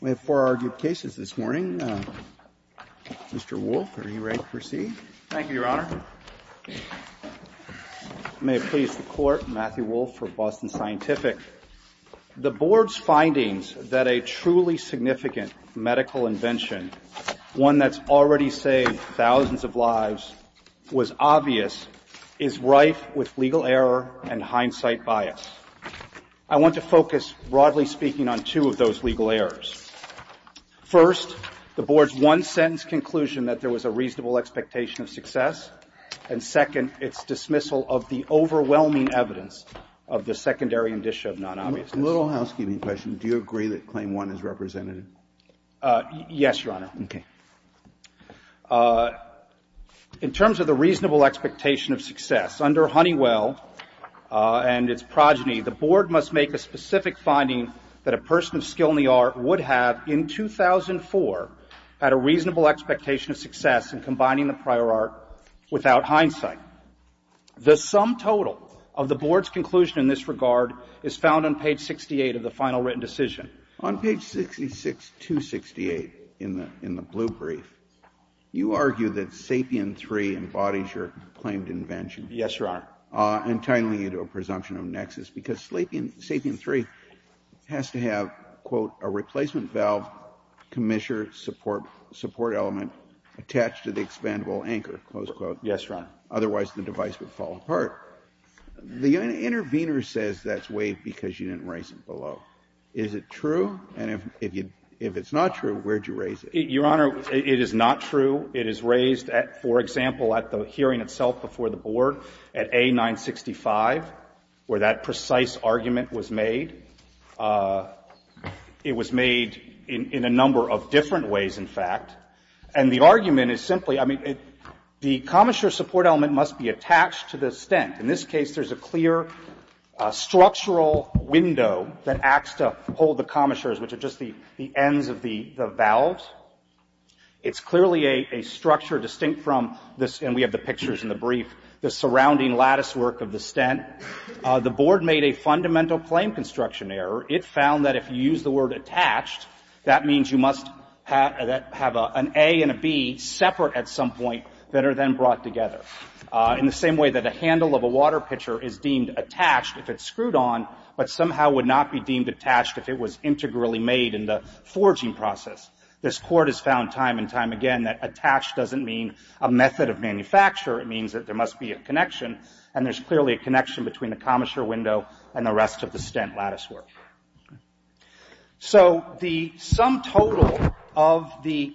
We have four argued cases this morning. Mr. Wolfe, are you ready to proceed? Thank you, Your Honor. May it please the Court, Matthew Wolfe for Boston Scientific. The Board's findings that a truly significant medical invention, one that's already saved broadly speaking on two of those legal errors. First, the Board's one-sentence conclusion that there was a reasonable expectation of success. And second, its dismissal of the overwhelming evidence of the secondary indicia of non-obviousness. A little housekeeping question. Do you agree that Claim 1 is representative? Yes, Your Honor. Okay. In terms of the reasonable expectation of success, under Honeywell and its progeny, the Board must make a specific finding that a person of skill in the art would have in 2004 had a reasonable expectation of success in combining the prior art without hindsight. The sum total of the Board's conclusion in this regard is found on page 68 of the final written decision. On page 66268 in the blue brief, you argue that Sapien III embodies your claimed invention. Yes, Your Honor. Entitling you to a presumption of nexus, because Sapien III has to have, quote, a replacement valve, commissure support element attached to the expandable anchor, close quote. Yes, Your Honor. Otherwise, the device would fall apart. The intervener says that's waived because you didn't raise it below. Is it true? And if it's not true, where do you raise it? Your Honor, it is not true. It is raised, for example, at the hearing itself before the Board at A-965, where that precise argument was made. It was made in a number of different ways, in fact. And the argument is simply, I mean, the commissure support element must be attached to the stent. In this case, there's a clear structural window that acts to hold the It's clearly a structure distinct from this, and we have the pictures in the brief, the surrounding latticework of the stent. The Board made a fundamental claim construction error. It found that if you use the word attached, that means you must have an A and a B separate at some point that are then brought together, in the same way that a handle of a water pitcher is deemed attached if it's screwed on, but somehow would not be deemed attached if it was integrally made in the forging process. This Court has found time and time again that attached doesn't mean a method of manufacture. It means that there must be a connection, and there's clearly a connection between the commissure window and the rest of the stent latticework. So the sum total of the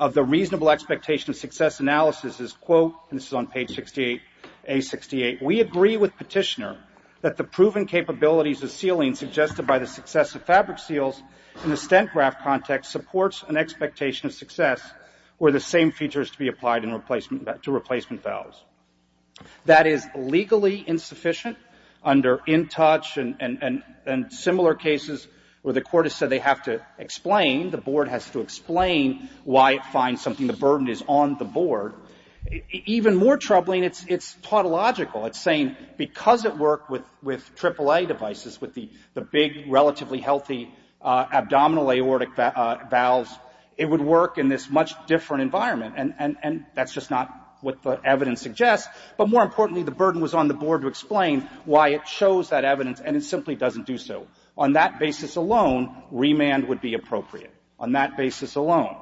reasonable expectation of success analysis is, quote, and this is on page 68, A-68, we agree with Petitioner that the proven capabilities of sealing suggested by the success of fabric seals in the stent graft context supports an expectation of success where the same features to be applied to replacement valves. That is legally insufficient under in-touch and similar cases where the Court has said they have to explain, the Board has to explain why it finds something, the burden is on the Board. Even more troubling, it's tautological. It's saying because it worked with AAA devices, with the big, relatively healthy abdominal aortic valves, it would work in this much different environment, and that's just not what the evidence suggests. But more importantly, the burden was on the Board to explain why it chose that evidence, and it simply doesn't do so. On that basis alone, remand would be appropriate, on that basis alone.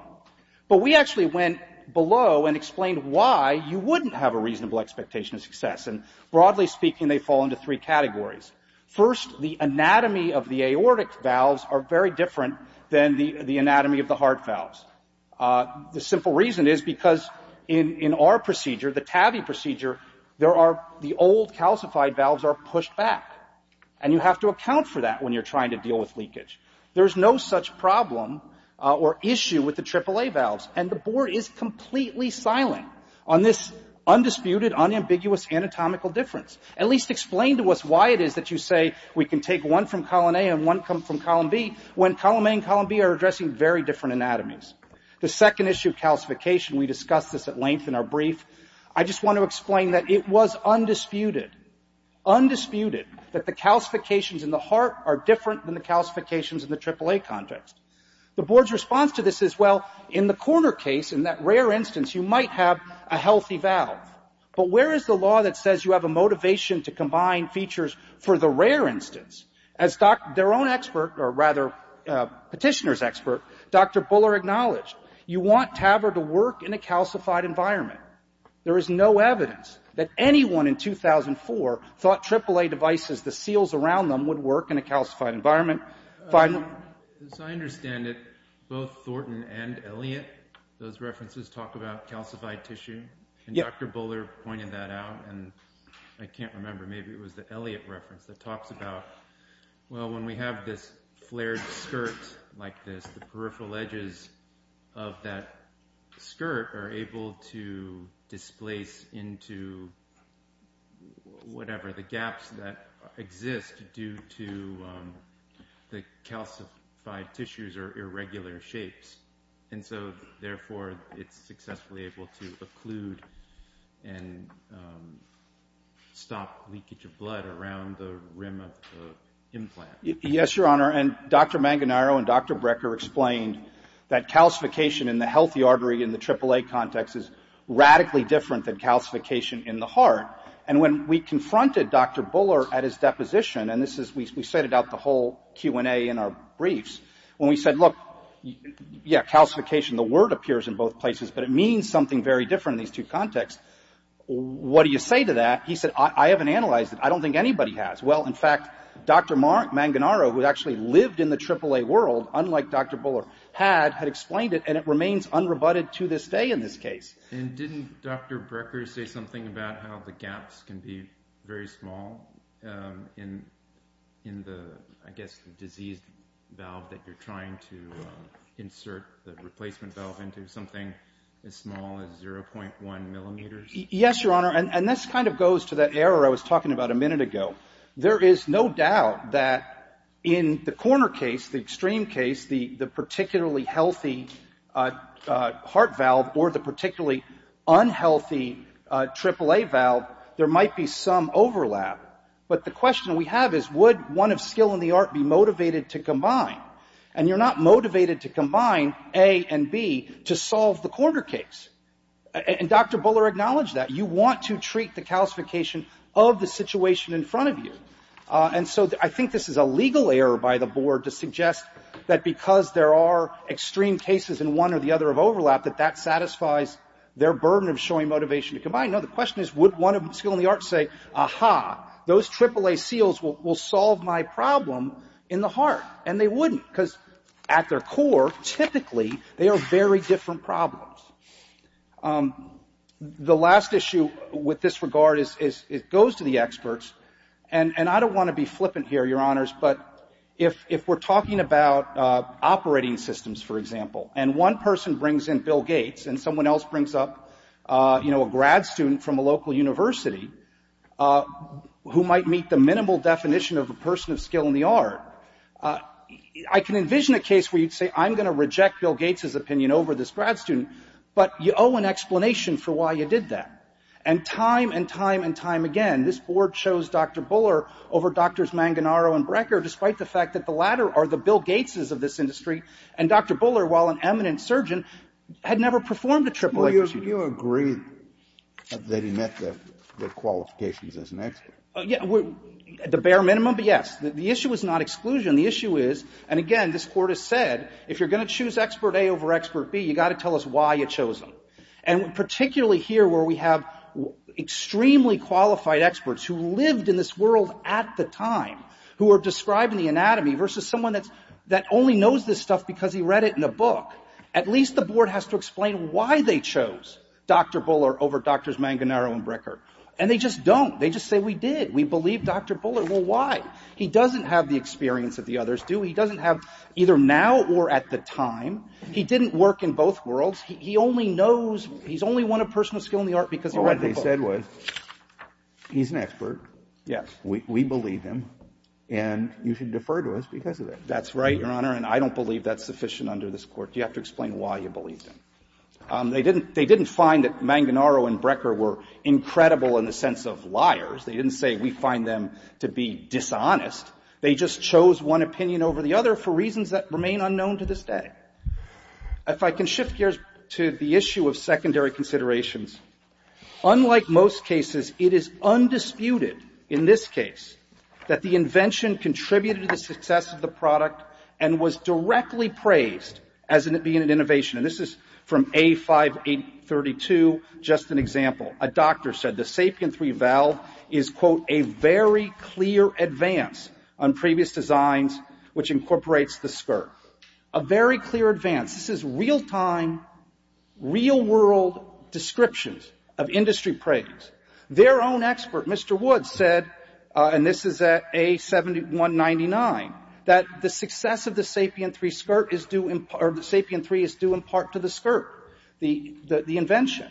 But we actually went below and explained why you wouldn't have a expectation of success, and broadly speaking, they fall into three categories. First, the anatomy of the aortic valves are very different than the anatomy of the heart valves. The simple reason is because in our procedure, the TAVI procedure, the old calcified valves are pushed back, and you have to account for that when you're trying to deal with leakage. There's no such problem or issue with the AAA valves, and the Board is completely silent on this undisputed, unambiguous anatomical difference. At least explain to us why it is that you say we can take one from column A and one from column B, when column A and column B are addressing very different anatomies. The second issue of calcification, we discussed this at length in our brief. I just want to explain that it was undisputed, undisputed, that the calcifications in the heart are different than the calcifications in the AAA context. The Board's response to this is, well, in the corner case, in that rare instance, you might have a healthy valve, but where is the law that says you have a motivation to combine features for the rare instance? As their own expert, or rather, petitioner's expert, Dr. Buller acknowledged, you want TAVR to work in a calcified environment. There is no evidence that anyone in 2004 thought AAA devices, the seals around them, would work in a calcified environment. As I understand it, both Thornton and Elliott, those references talk about calcified tissue, and Dr. Buller pointed that out, and I can't remember, maybe it was the Elliott reference that talks about, well, when we have this flared skirt like this, the peripheral edges of that skirt are able to displace into whatever, the gaps that exist due to the calcified tissues are irregular shapes, and so, therefore, it's successfully able to occlude and stop leakage of blood around the rim of the implant. Yes, Your Honor, and Dr. Manganaro and Dr. Brecker explained that calcification in the healthy artery in the AAA context is radically different than calcification in the heart, and when we confronted Dr. Buller at his deposition, and this is, we set it out the whole Q and A in our briefs, when we said, look, yeah, calcification, the word appears in both places, but it means something very different in these two contexts. What do you say to that? He said, I haven't analyzed it. I don't think anybody has. Well, in fact, Dr. Manganaro, who actually lived in the AAA world, unlike Dr. Buller, had, had explained it, and it remains unrebutted to this day in this case. Didn't Dr. Brecker say something about how the gaps can be very small in, in the, I guess, the disease valve that you're trying to insert the replacement valve into, something as small as 0.1 millimeters? Yes, Your Honor, and this kind of goes to that error I was talking about a minute ago. There is no doubt that in the corner case, the extreme case, the, the particularly healthy heart valve or the unhealthy AAA valve, there might be some overlap. But the question we have is, would one of skill and the art be motivated to combine? And you're not motivated to combine A and B to solve the corner case. And, and Dr. Buller acknowledged that. You want to treat the calcification of the situation in front of you. And so I think this is a legal error by the board to suggest that because there are extreme cases in one or the other of overlap, that that sort of showing motivation to combine. No, the question is, would one of skill and the art say, aha, those AAA seals will, will solve my problem in the heart? And they wouldn't, because at their core, typically, they are very different problems. The last issue with this regard is, is it goes to the experts. And, and I don't want to be flippant here, Your Honors, but if, if we're talking about operating systems, for example, and one person brings in Bill Gates and someone else brings up, you know, a grad student from a local university who might meet the minimal definition of a person of skill in the art, I can envision a case where you'd say, I'm going to reject Bill Gates's opinion over this grad student, but you owe an explanation for why you did that. And time and time and time again, this board chose Dr. Buller over Drs. Manganaro and Brecker, despite the fact that the latter are the Bill Gates's of this to AAA procedure. Kennedy. Well, you, you agree that he met the, the qualifications as an expert. Well, yeah, we're, at the bare minimum, but yes. The, the issue is not exclusion. The issue is, and again, this Court has said, if you're going to choose expert A over expert B, you've got to tell us why you chose him. And particularly here, where we have extremely qualified experts who lived in this world at the time, who are describing the anatomy versus someone that's, that only knows this stuff because he read it in a book, at least the board has to explain why they chose Dr. Buller over Drs. Manganaro and Brecker. And they just don't. They just say, we did. We believe Dr. Buller. Well, why? He doesn't have the experience that the others do. He doesn't have, either now or at the time. He didn't work in both worlds. He, he only knows, he's only one of personal skill in the art because he read the book. Well, what they said was, he's an expert. Yes. We, we believe him. And you should defer to us because of that. That's right, Your Honor. And I don't believe that's sufficient under this Court. You have to explain why you believe him. They didn't, they didn't find that Manganaro and Brecker were incredible in the sense of liars. They didn't say, we find them to be dishonest. They just chose one opinion over the other for reasons that remain unknown to this day. If I can shift gears to the issue of secondary considerations. Unlike most cases, it is undisputed, in this case, that the invention contributed to the success of the product and was directly praised as an, being an innovation. And this is from A5832, just an example. A doctor said the Sapien III valve is, quote, a very clear advance on previous designs, which incorporates the skirt. A very clear advance. This is real time, real world descriptions of industry praise. Their own expert, Mr. Woods, said, and this is at A7199, that the success of the Sapien III skirt is due, or the Sapien III is due in part to the skirt. The, the, the invention.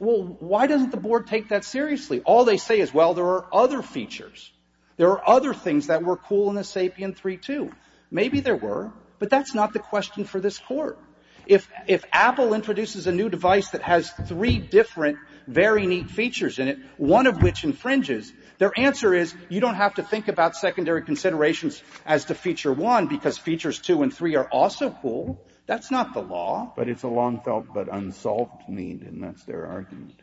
Well, why doesn't the Board take that seriously? All they say is, well, there are other features. There are other things that were cool in the Sapien III, too. Maybe there were, but that's not the question for this Court. If, if Apple introduces a new device that has three different, very neat features in it, one of which infringes, their answer is, you don't have to think about secondary considerations as to feature one, because features two and three are also cool. That's not the law. But it's a long felt but unsolved need, and that's their argument.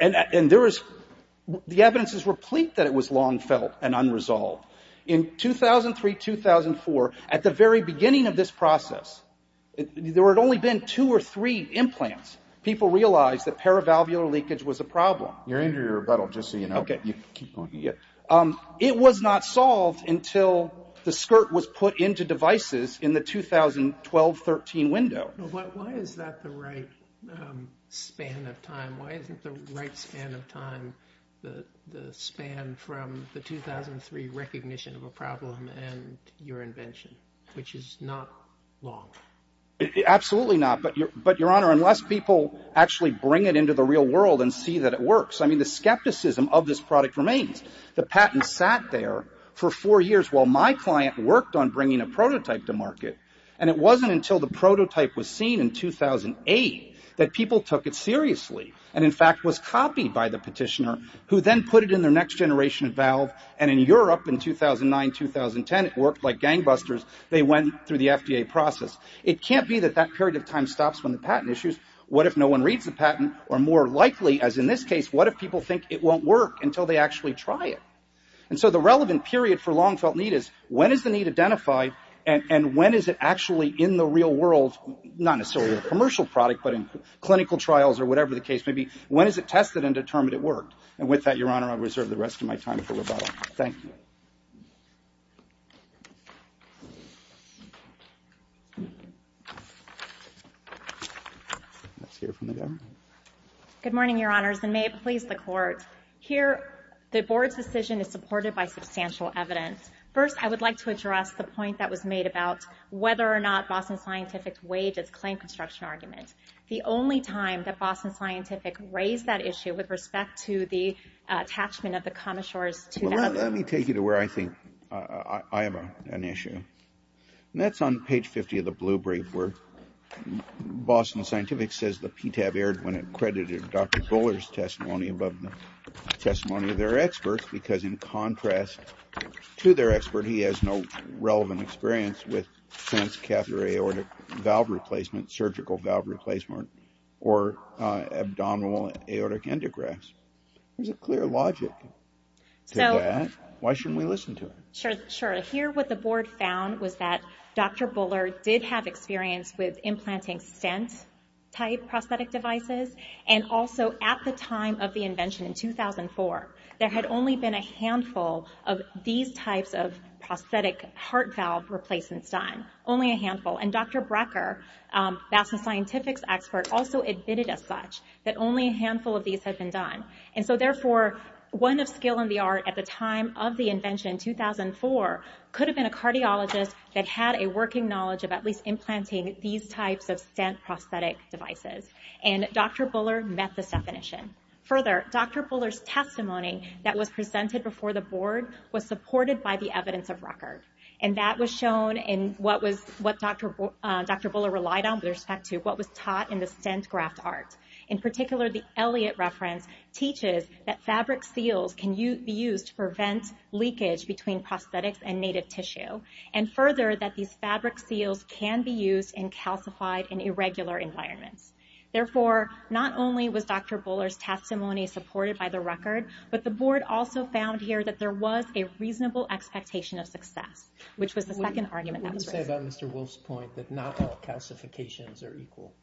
And, and there is, the evidence is replete that it was long felt and unresolved. In 2003, 2004, at the very beginning of this process, there had only been two or three implants, people realized that paravalvular leakage was a problem. You're into your rebuttal, just so you know. Okay. You can keep going. Yeah. It was not solved until the skirt was put into devices in the 2012-13 window. But why is that the right span of time? Why isn't the right span of time the, the span from the 2003 recognition of a problem and your invention, which is not long? Absolutely not. But your, but your Honor, unless people actually bring it into the real world and see that it works. I mean, the skepticism of this product remains. The patent sat there for four years while my client worked on bringing a prototype to market. And it wasn't until the prototype was seen in 2008 that people took it seriously. And in fact, was copied by the petitioner, who then put it in their next generation of valve. And in Europe in 2009, 2010, it worked like gangbusters. They went through the FDA process. It can't be that that period of time stops when the patent issues. What if no one reads the patent? Or more likely, as in this case, what if people think it won't work until they actually try it? And so the relevant period for long felt need is, when is the need identified? And, and when is it actually in the real world? Not necessarily a commercial product, but in clinical trials or whatever the case may be. When is it tested and determined it worked? And with that, your Honor, I reserve the rest of my time for rebuttal. Thank you. Let's hear from the Governor. Good morning, your Honors, and may it please the Court. Here, the Board's decision is supported by substantial evidence. First, I would like to address the point that was made about whether or not Boston Scientific weighed its claim construction argument. The only time that Boston Scientific raised that issue with respect to the attachment of the Commissure's 2000- Well, let me take you to where I think I have an issue. And that's on page 50 of the Blue Brief, where Boston Scientific says the PTAB veered when it credited Dr. Buller's testimony above the testimony of their experts, because in contrast to their expert, he has no relevant experience with sense catheter aortic valve replacement, surgical valve replacement, or abdominal aortic endografts. There's a clear logic to that. Why shouldn't we listen to it? Sure, sure. Here, what the Board found was that Dr. Buller did have experience with And also, at the time of the invention in 2004, there had only been a handful of these types of prosthetic heart valve replacements done. Only a handful. And Dr. Brecker, Boston Scientific's expert, also admitted as such that only a handful of these had been done. And so, therefore, one of skill in the art at the time of the invention in 2004 could have been a cardiologist that had a working knowledge of at least implanting these types of stent prosthetic devices. And Dr. Buller met this definition. Further, Dr. Buller's testimony that was presented before the Board was supported by the evidence of record. And that was shown in what Dr. Buller relied on with respect to what was taught in the stent graft art. In particular, the Elliott reference teaches that fabric seals can be used to prevent leakage between prosthetics and native tissue. And further, that these fabric seals can be used in calcified and irregular environments. Therefore, not only was Dr. Buller's testimony supported by the record, but the Board also found here that there was a reasonable expectation of success, which was the second argument that was raised. What do you say about Mr. Wolf's point that not all calcifications are equal?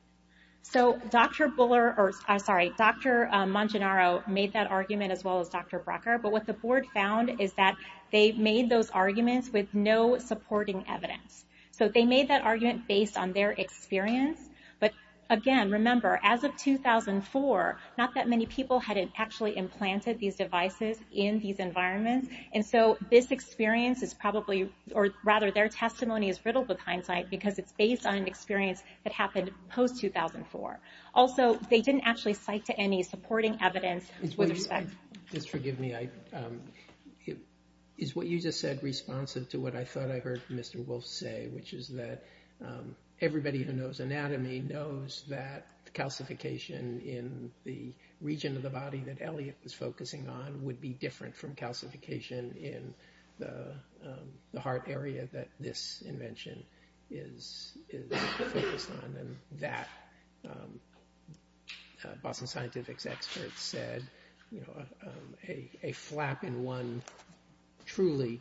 So, Dr. Buller, or, I'm sorry, Dr. Manginaro made that argument as well as Dr. Brecker. But what the Board found is that they made those arguments with no supporting evidence. So they made that argument based on their experience. But, again, remember, as of 2004, not that many people had actually implanted these devices in these environments. And so this experience is probably, or rather, their testimony is riddled with hindsight because it's based on an experience that happened post-2004. Also, they didn't actually cite to any supporting evidence with respect. Just forgive me. But is what you just said responsive to what I thought I heard Mr. Wolf say, which is that everybody who knows anatomy knows that calcification in the region of the body that Elliot was focusing on would be different from calcification in the heart area that this invention is focused on? That, Boston Scientific's experts said, a flap in one truly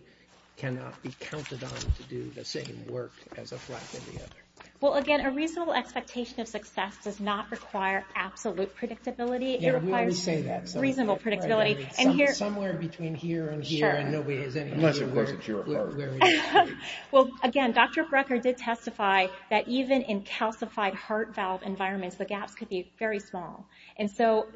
cannot be counted on to do the same work as a flap in the other. Well, again, a reasonable expectation of success does not require absolute predictability. Yeah, we always say that. Reasonable predictability. Somewhere between here and here. And nobody has any idea where we are. Well, again, Dr. Brecker did testify that even in calcified heart valve environments, the gaps could be very small. And so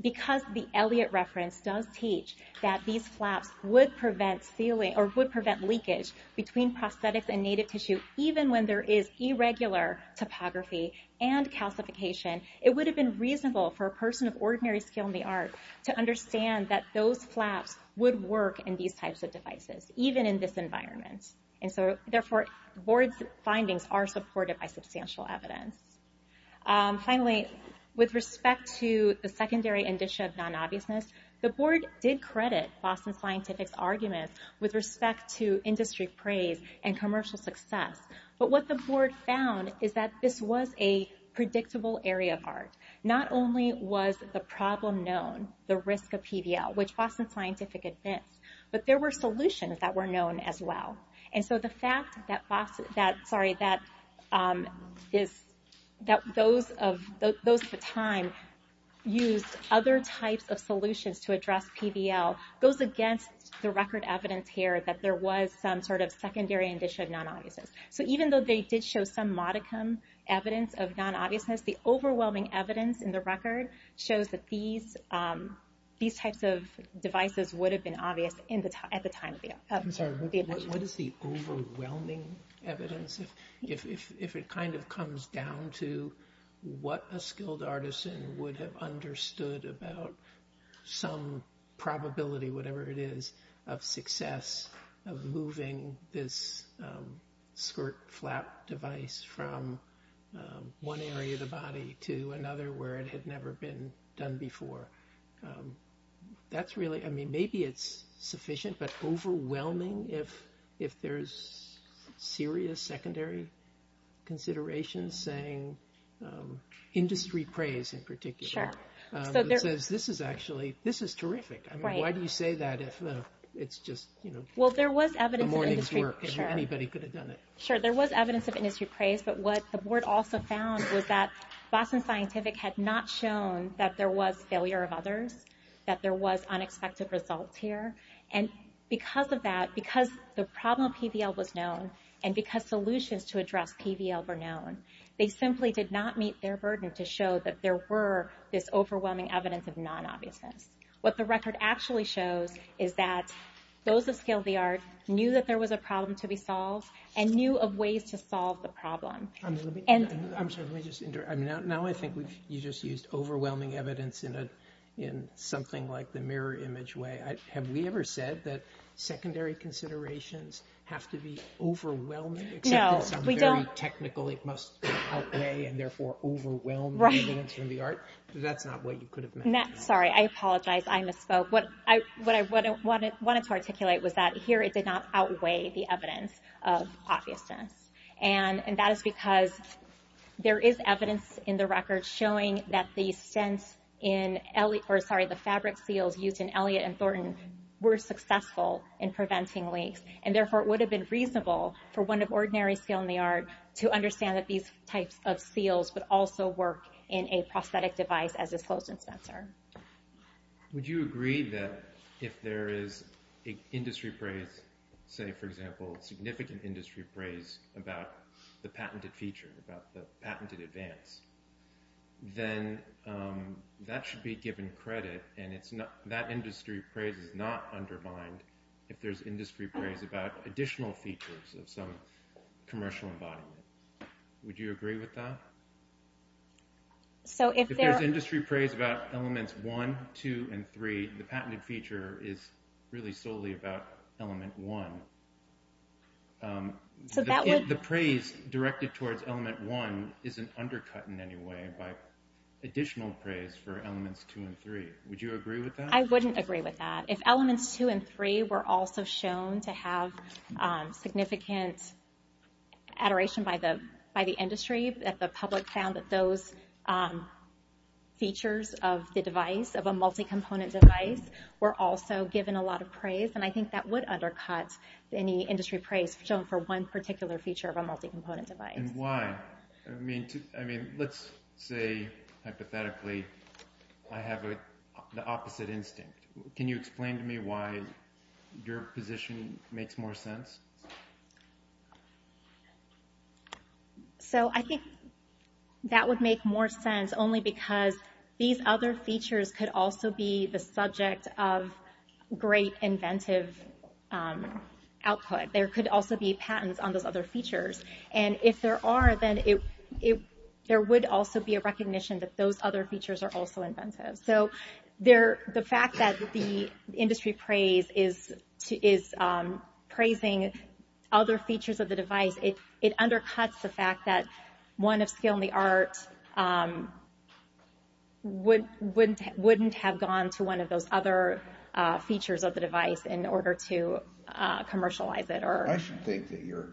because the Elliot reference does teach that these flaps would prevent sealing, or would prevent leakage between prosthetics and native tissue, even when there is irregular topography and calcification, it would have been reasonable for a person of ordinary skill in the art to understand that those environments. And so, therefore, board's findings are supported by substantial evidence. Finally, with respect to the secondary indicia of non-obviousness, the board did credit Boston Scientific's arguments with respect to industry praise and commercial success. But what the board found is that this was a predictable area of art. Not only was the problem known, the risk of PDL, which Boston Scientific admits, but there were solutions that were known as well. And so the fact that, sorry, that those of the time used other types of solutions to address PDL goes against the record evidence here that there was some sort of secondary indicia of non-obviousness. So even though they did show some modicum evidence of non-obviousness, the overwhelming evidence in the record shows that these types of devices would have been obvious at the time of the invention. What is the overwhelming evidence if it kind of comes down to what a skilled artisan would have understood about some probability, whatever it is, of success of moving this skirt flap device from one area of the body to another where it had never been done before? That's really, I mean, maybe it's sufficient, but overwhelming if there's serious secondary considerations, saying industry praise in particular. It says this is actually, this is terrific. I mean, why do you say that if it's just, you know, a morning's work? Anybody could have done it. Sure, there was evidence of industry praise. But what the board also found was that Boston Scientific had not shown that there was failure of others, that there was unexpected results here. And because of that, because the problem of PVL was known, and because solutions to address PVL were known, they simply did not meet their burden to show that there were this overwhelming evidence of non-obviousness. What the record actually shows is that those of skilled VR knew that there was a problem to be solved and knew of ways to solve the problem. I'm sorry, let me just interrupt. Now I think you just used overwhelming evidence in something like the mirror image way. Have we ever said that secondary considerations have to be overwhelming, except for some very technical, it must outweigh and therefore overwhelm the evidence from the art? That's not what you could have meant. Sorry, I apologize. I misspoke. What I wanted to articulate was that here it did not outweigh the evidence of obviousness. And that is because there is evidence in the record showing that the fabric seals used in Elliott and Thornton were successful in preventing leaks. And therefore, it would have been reasonable for one of ordinary skilled in the art to understand that these types of seals would also work in a prosthetic device as a closed dispenser. Would you agree that if there is an industry praise, say for example, significant industry praise about the patented feature, about the patented advance, then that should be given credit. And that industry praise is not undermined if there's industry praise about additional features of some commercial embodiment. Would you agree with that? So if there's industry praise about elements one, two, and three, the praise directed towards element one isn't undercut in any way by additional praise for elements two and three. Would you agree with that? I wouldn't agree with that. If elements two and three were also shown to have significant adoration by the industry, if the public found that those features of the device, of a multi-component device, were also given a lot of praise, then I think that would undercut any industry praise shown for one particular feature of a multi-component device. And why? I mean, let's say, hypothetically, I have the opposite instinct. Can you explain to me why your position makes more sense? So I think that would make more sense only because these other features could also be the subject of great inventive output. There could also be patents on those other features. And if there are, then there would also be a recognition that those other features are also inventive. So the fact that the industry praise is praising other features of the device, it would have gone to one of those other features of the device in order to commercialize it. I should think that your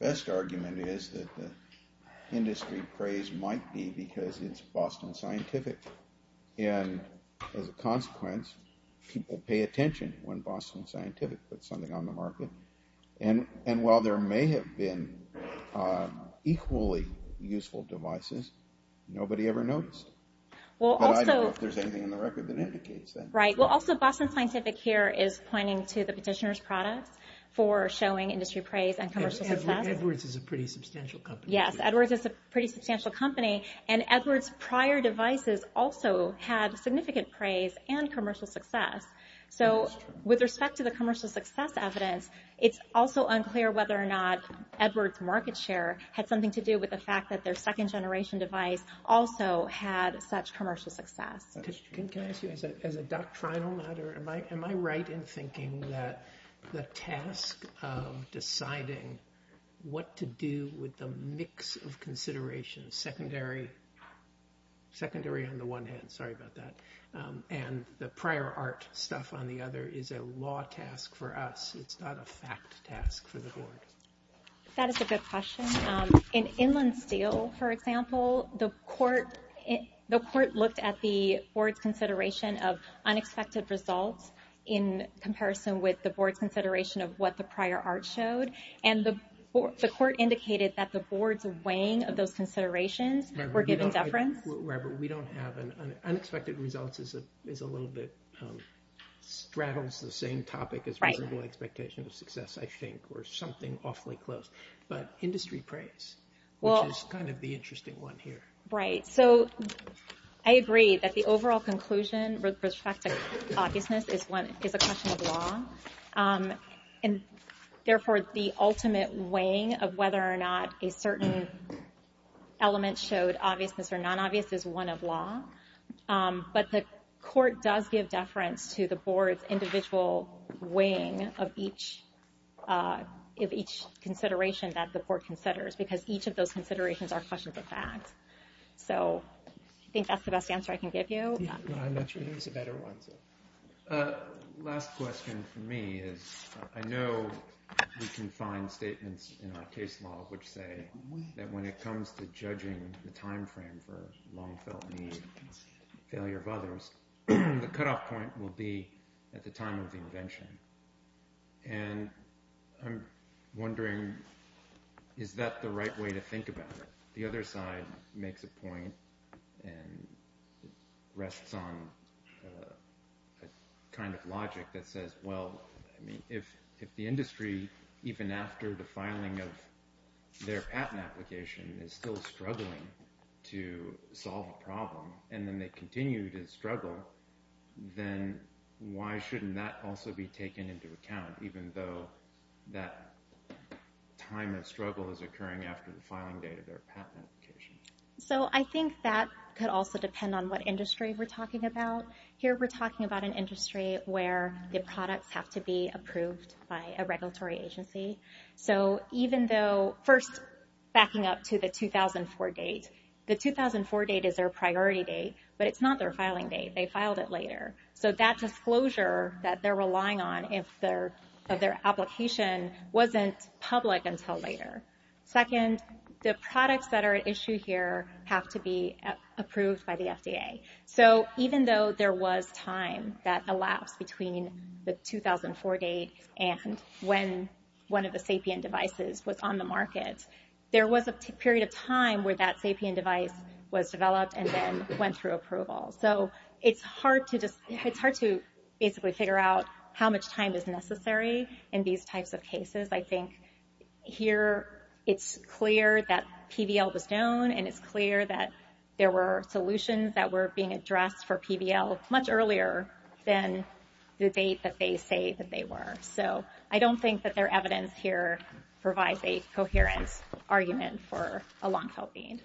best argument is that the industry praise might be because it's Boston Scientific. And as a consequence, people pay attention when Boston Scientific puts something on the market. And while there may have been equally useful devices, nobody ever noticed. But I don't know if there's anything in the record that indicates that. Right. Well, also, Boston Scientific here is pointing to the petitioner's product for showing industry praise and commercial success. Edwards is a pretty substantial company. Yes, Edwards is a pretty substantial company. And Edwards' prior devices also had significant praise and commercial success. So with respect to the commercial success evidence, it's also unclear whether or not Edwards' market share had something to do with the fact that their second generation device also had such commercial success. Can I ask you, as a doctrinal matter, am I right in thinking that the task of deciding what to do with the mix of considerations, secondary on the one hand, sorry about that, and the prior art stuff on the other is a law task for us. It's not a fact task for the board. That is a good question. In Inland Steel, for example, the court looked at the board's consideration of unexpected results in comparison with the board's consideration of what the prior art showed. And the court indicated that the board's weighing of those considerations were given deference. Robert, we don't have an unexpected results is a little bit, straddles the same topic as reasonable expectation of success, I think, or something awfully close. But industry praise, which is kind of the interesting one here. Right. So I agree that the overall conclusion with respect to obviousness is a question of law. And therefore, the ultimate weighing of whether or not a certain element showed obviousness or non-obvious is one of law. But the court does give deference to the board's individual weighing of each consideration that the board considers, because each of those considerations are questions of fact. So I think that's the best answer I can give you. I'm not sure there's a better one. Last question for me is, I know we can find statements in our case law which say that when it comes to judging the time frame for long-felt need and failure of others, the cutoff point will be at the time of the invention. And I'm wondering, is that the right way to think about it? The other side makes a point and rests on a kind of logic that says, well, I mean, if the industry, even after the filing of their patent application, is still struggling to solve a problem, and then they continue to struggle, then why shouldn't that also be taken into account, even though that time of struggle is occurring after the filing date of their patent application? So I think that could also depend on what industry we're talking about. Here we're talking about an industry where the products have to be approved by a regulatory agency. So even though, first, backing up to the 2004 date. The 2004 date is their priority date, but it's not their filing date. They filed it later. So that disclosure that they're relying on of their application wasn't public until later. Second, the products that are at issue here have to be approved by the FDA. So even though there was time that elapsed between the 2004 date and when one of the SAPIEN devices was on the market, there was a period of time where that SAPIEN device was developed and then went through approval. So it's hard to just, it's hard to basically figure out how much time is necessary in these types of cases. I think here it's clear that PBL was known, and it's clear that there were solutions that were being addressed for PBL much earlier than the date that they say that they were. So I don't think that their evidence here provides a coherent argument for a long-tail case.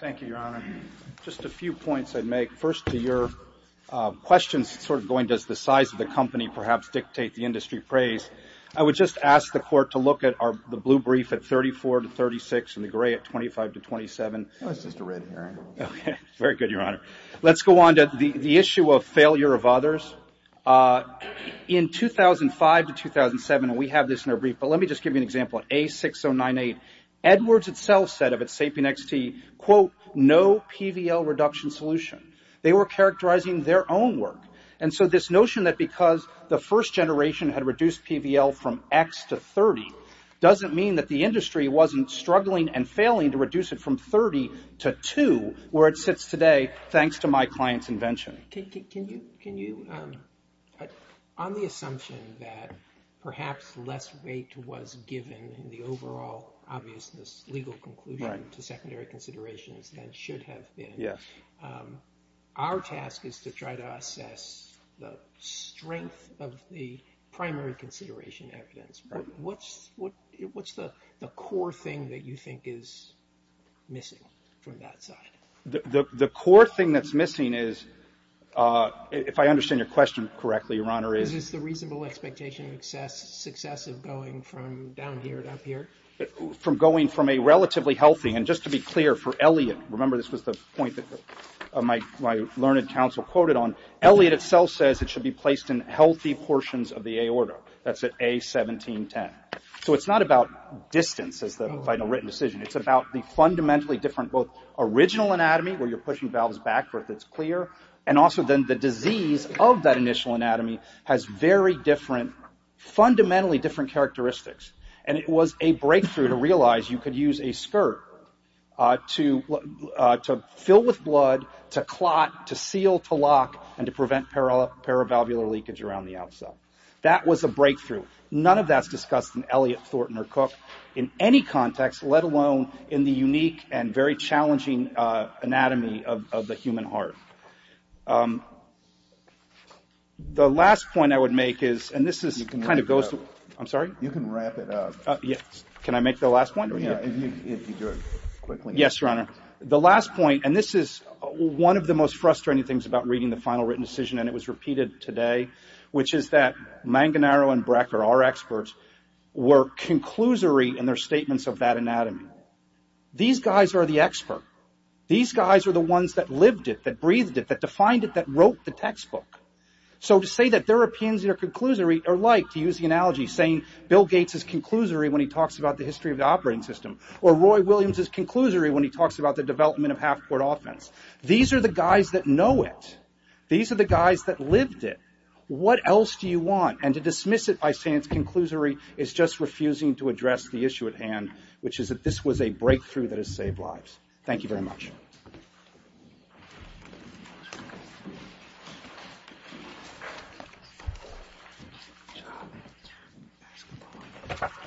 Thank you, Your Honor. Just a few points I'd make. First, to your questions sort of going, does the size of the company perhaps dictate the industry praise? I would just ask the Court to look at the blue brief at 34 to 36 and the gray at 25 to 27. Very good, Your Honor. Let's go on to the issue of failure of others. In 2005 to 2007, and we have this in our brief, but let me just give you an example. At A6098, Edwards itself said of its SAPIEN XT, quote, no PBL reduction solution. They were characterizing their own work. And so this notion that because the first generation had reduced PBL from X to 30 doesn't mean that the industry wasn't struggling and failing to reduce it from 30 to 2, where it sits today, thanks to my client's invention. Can you, on the assumption that perhaps less weight was given in the overall obviousness legal conclusion to secondary considerations than should have been, our task is to try to assess the strength of the primary consideration evidence. What's the core thing that you think is missing from that side? The core thing that's missing is, if I understand your question correctly, Your Honor, is the reasonable expectation of success of going from down here to up here. From going from a relatively healthy, and just to be clear for Elliott, remember this was the point that my learned counsel quoted on, Elliott itself says it should be placed in healthy portions of the A order. That's at A1710. So it's not about distance as the final written decision. It's about the fundamentally different, both original anatomy, where you're pushing valves back where it's clear, and also then the disease of that initial anatomy has very different, fundamentally different characteristics. And it was a breakthrough to realize you could use a skirt to fill with blood, to clot, to seal, to lock, and to prevent paravalvular leakage around the out cell. That was a breakthrough. None of that's discussed in Elliott, Thornton, or Cook in any context, let alone in the unique and very challenging anatomy of the human heart. The last point I would make is, and this is kind of goes to, I'm sorry? You can wrap it up. Yes. Can I make the last point? Yeah, if you do it quickly. Yes, Your Honor. The last point, and this is one of the most frustrating things about reading the final written decision, and it was repeated today, which is that Manganaro and Brecker, our experts, were conclusory in their statements of that anatomy. These guys are the expert. These guys are the ones that lived it, that breathed it, that defined it, that wrote the textbook. So to say that there are opinions that are conclusory are like, to use the analogy, saying Bill Gates is conclusory when he talks about the history of the operating system, or Roy Williams is conclusory when he talks about the development of half-court offense. These are the guys that know it. These are the guys that lived it. What else do you want? And to dismiss it by saying it's conclusory is just refusing to address the issue at hand, which is that this was a breakthrough that has saved lives. Thank you very much.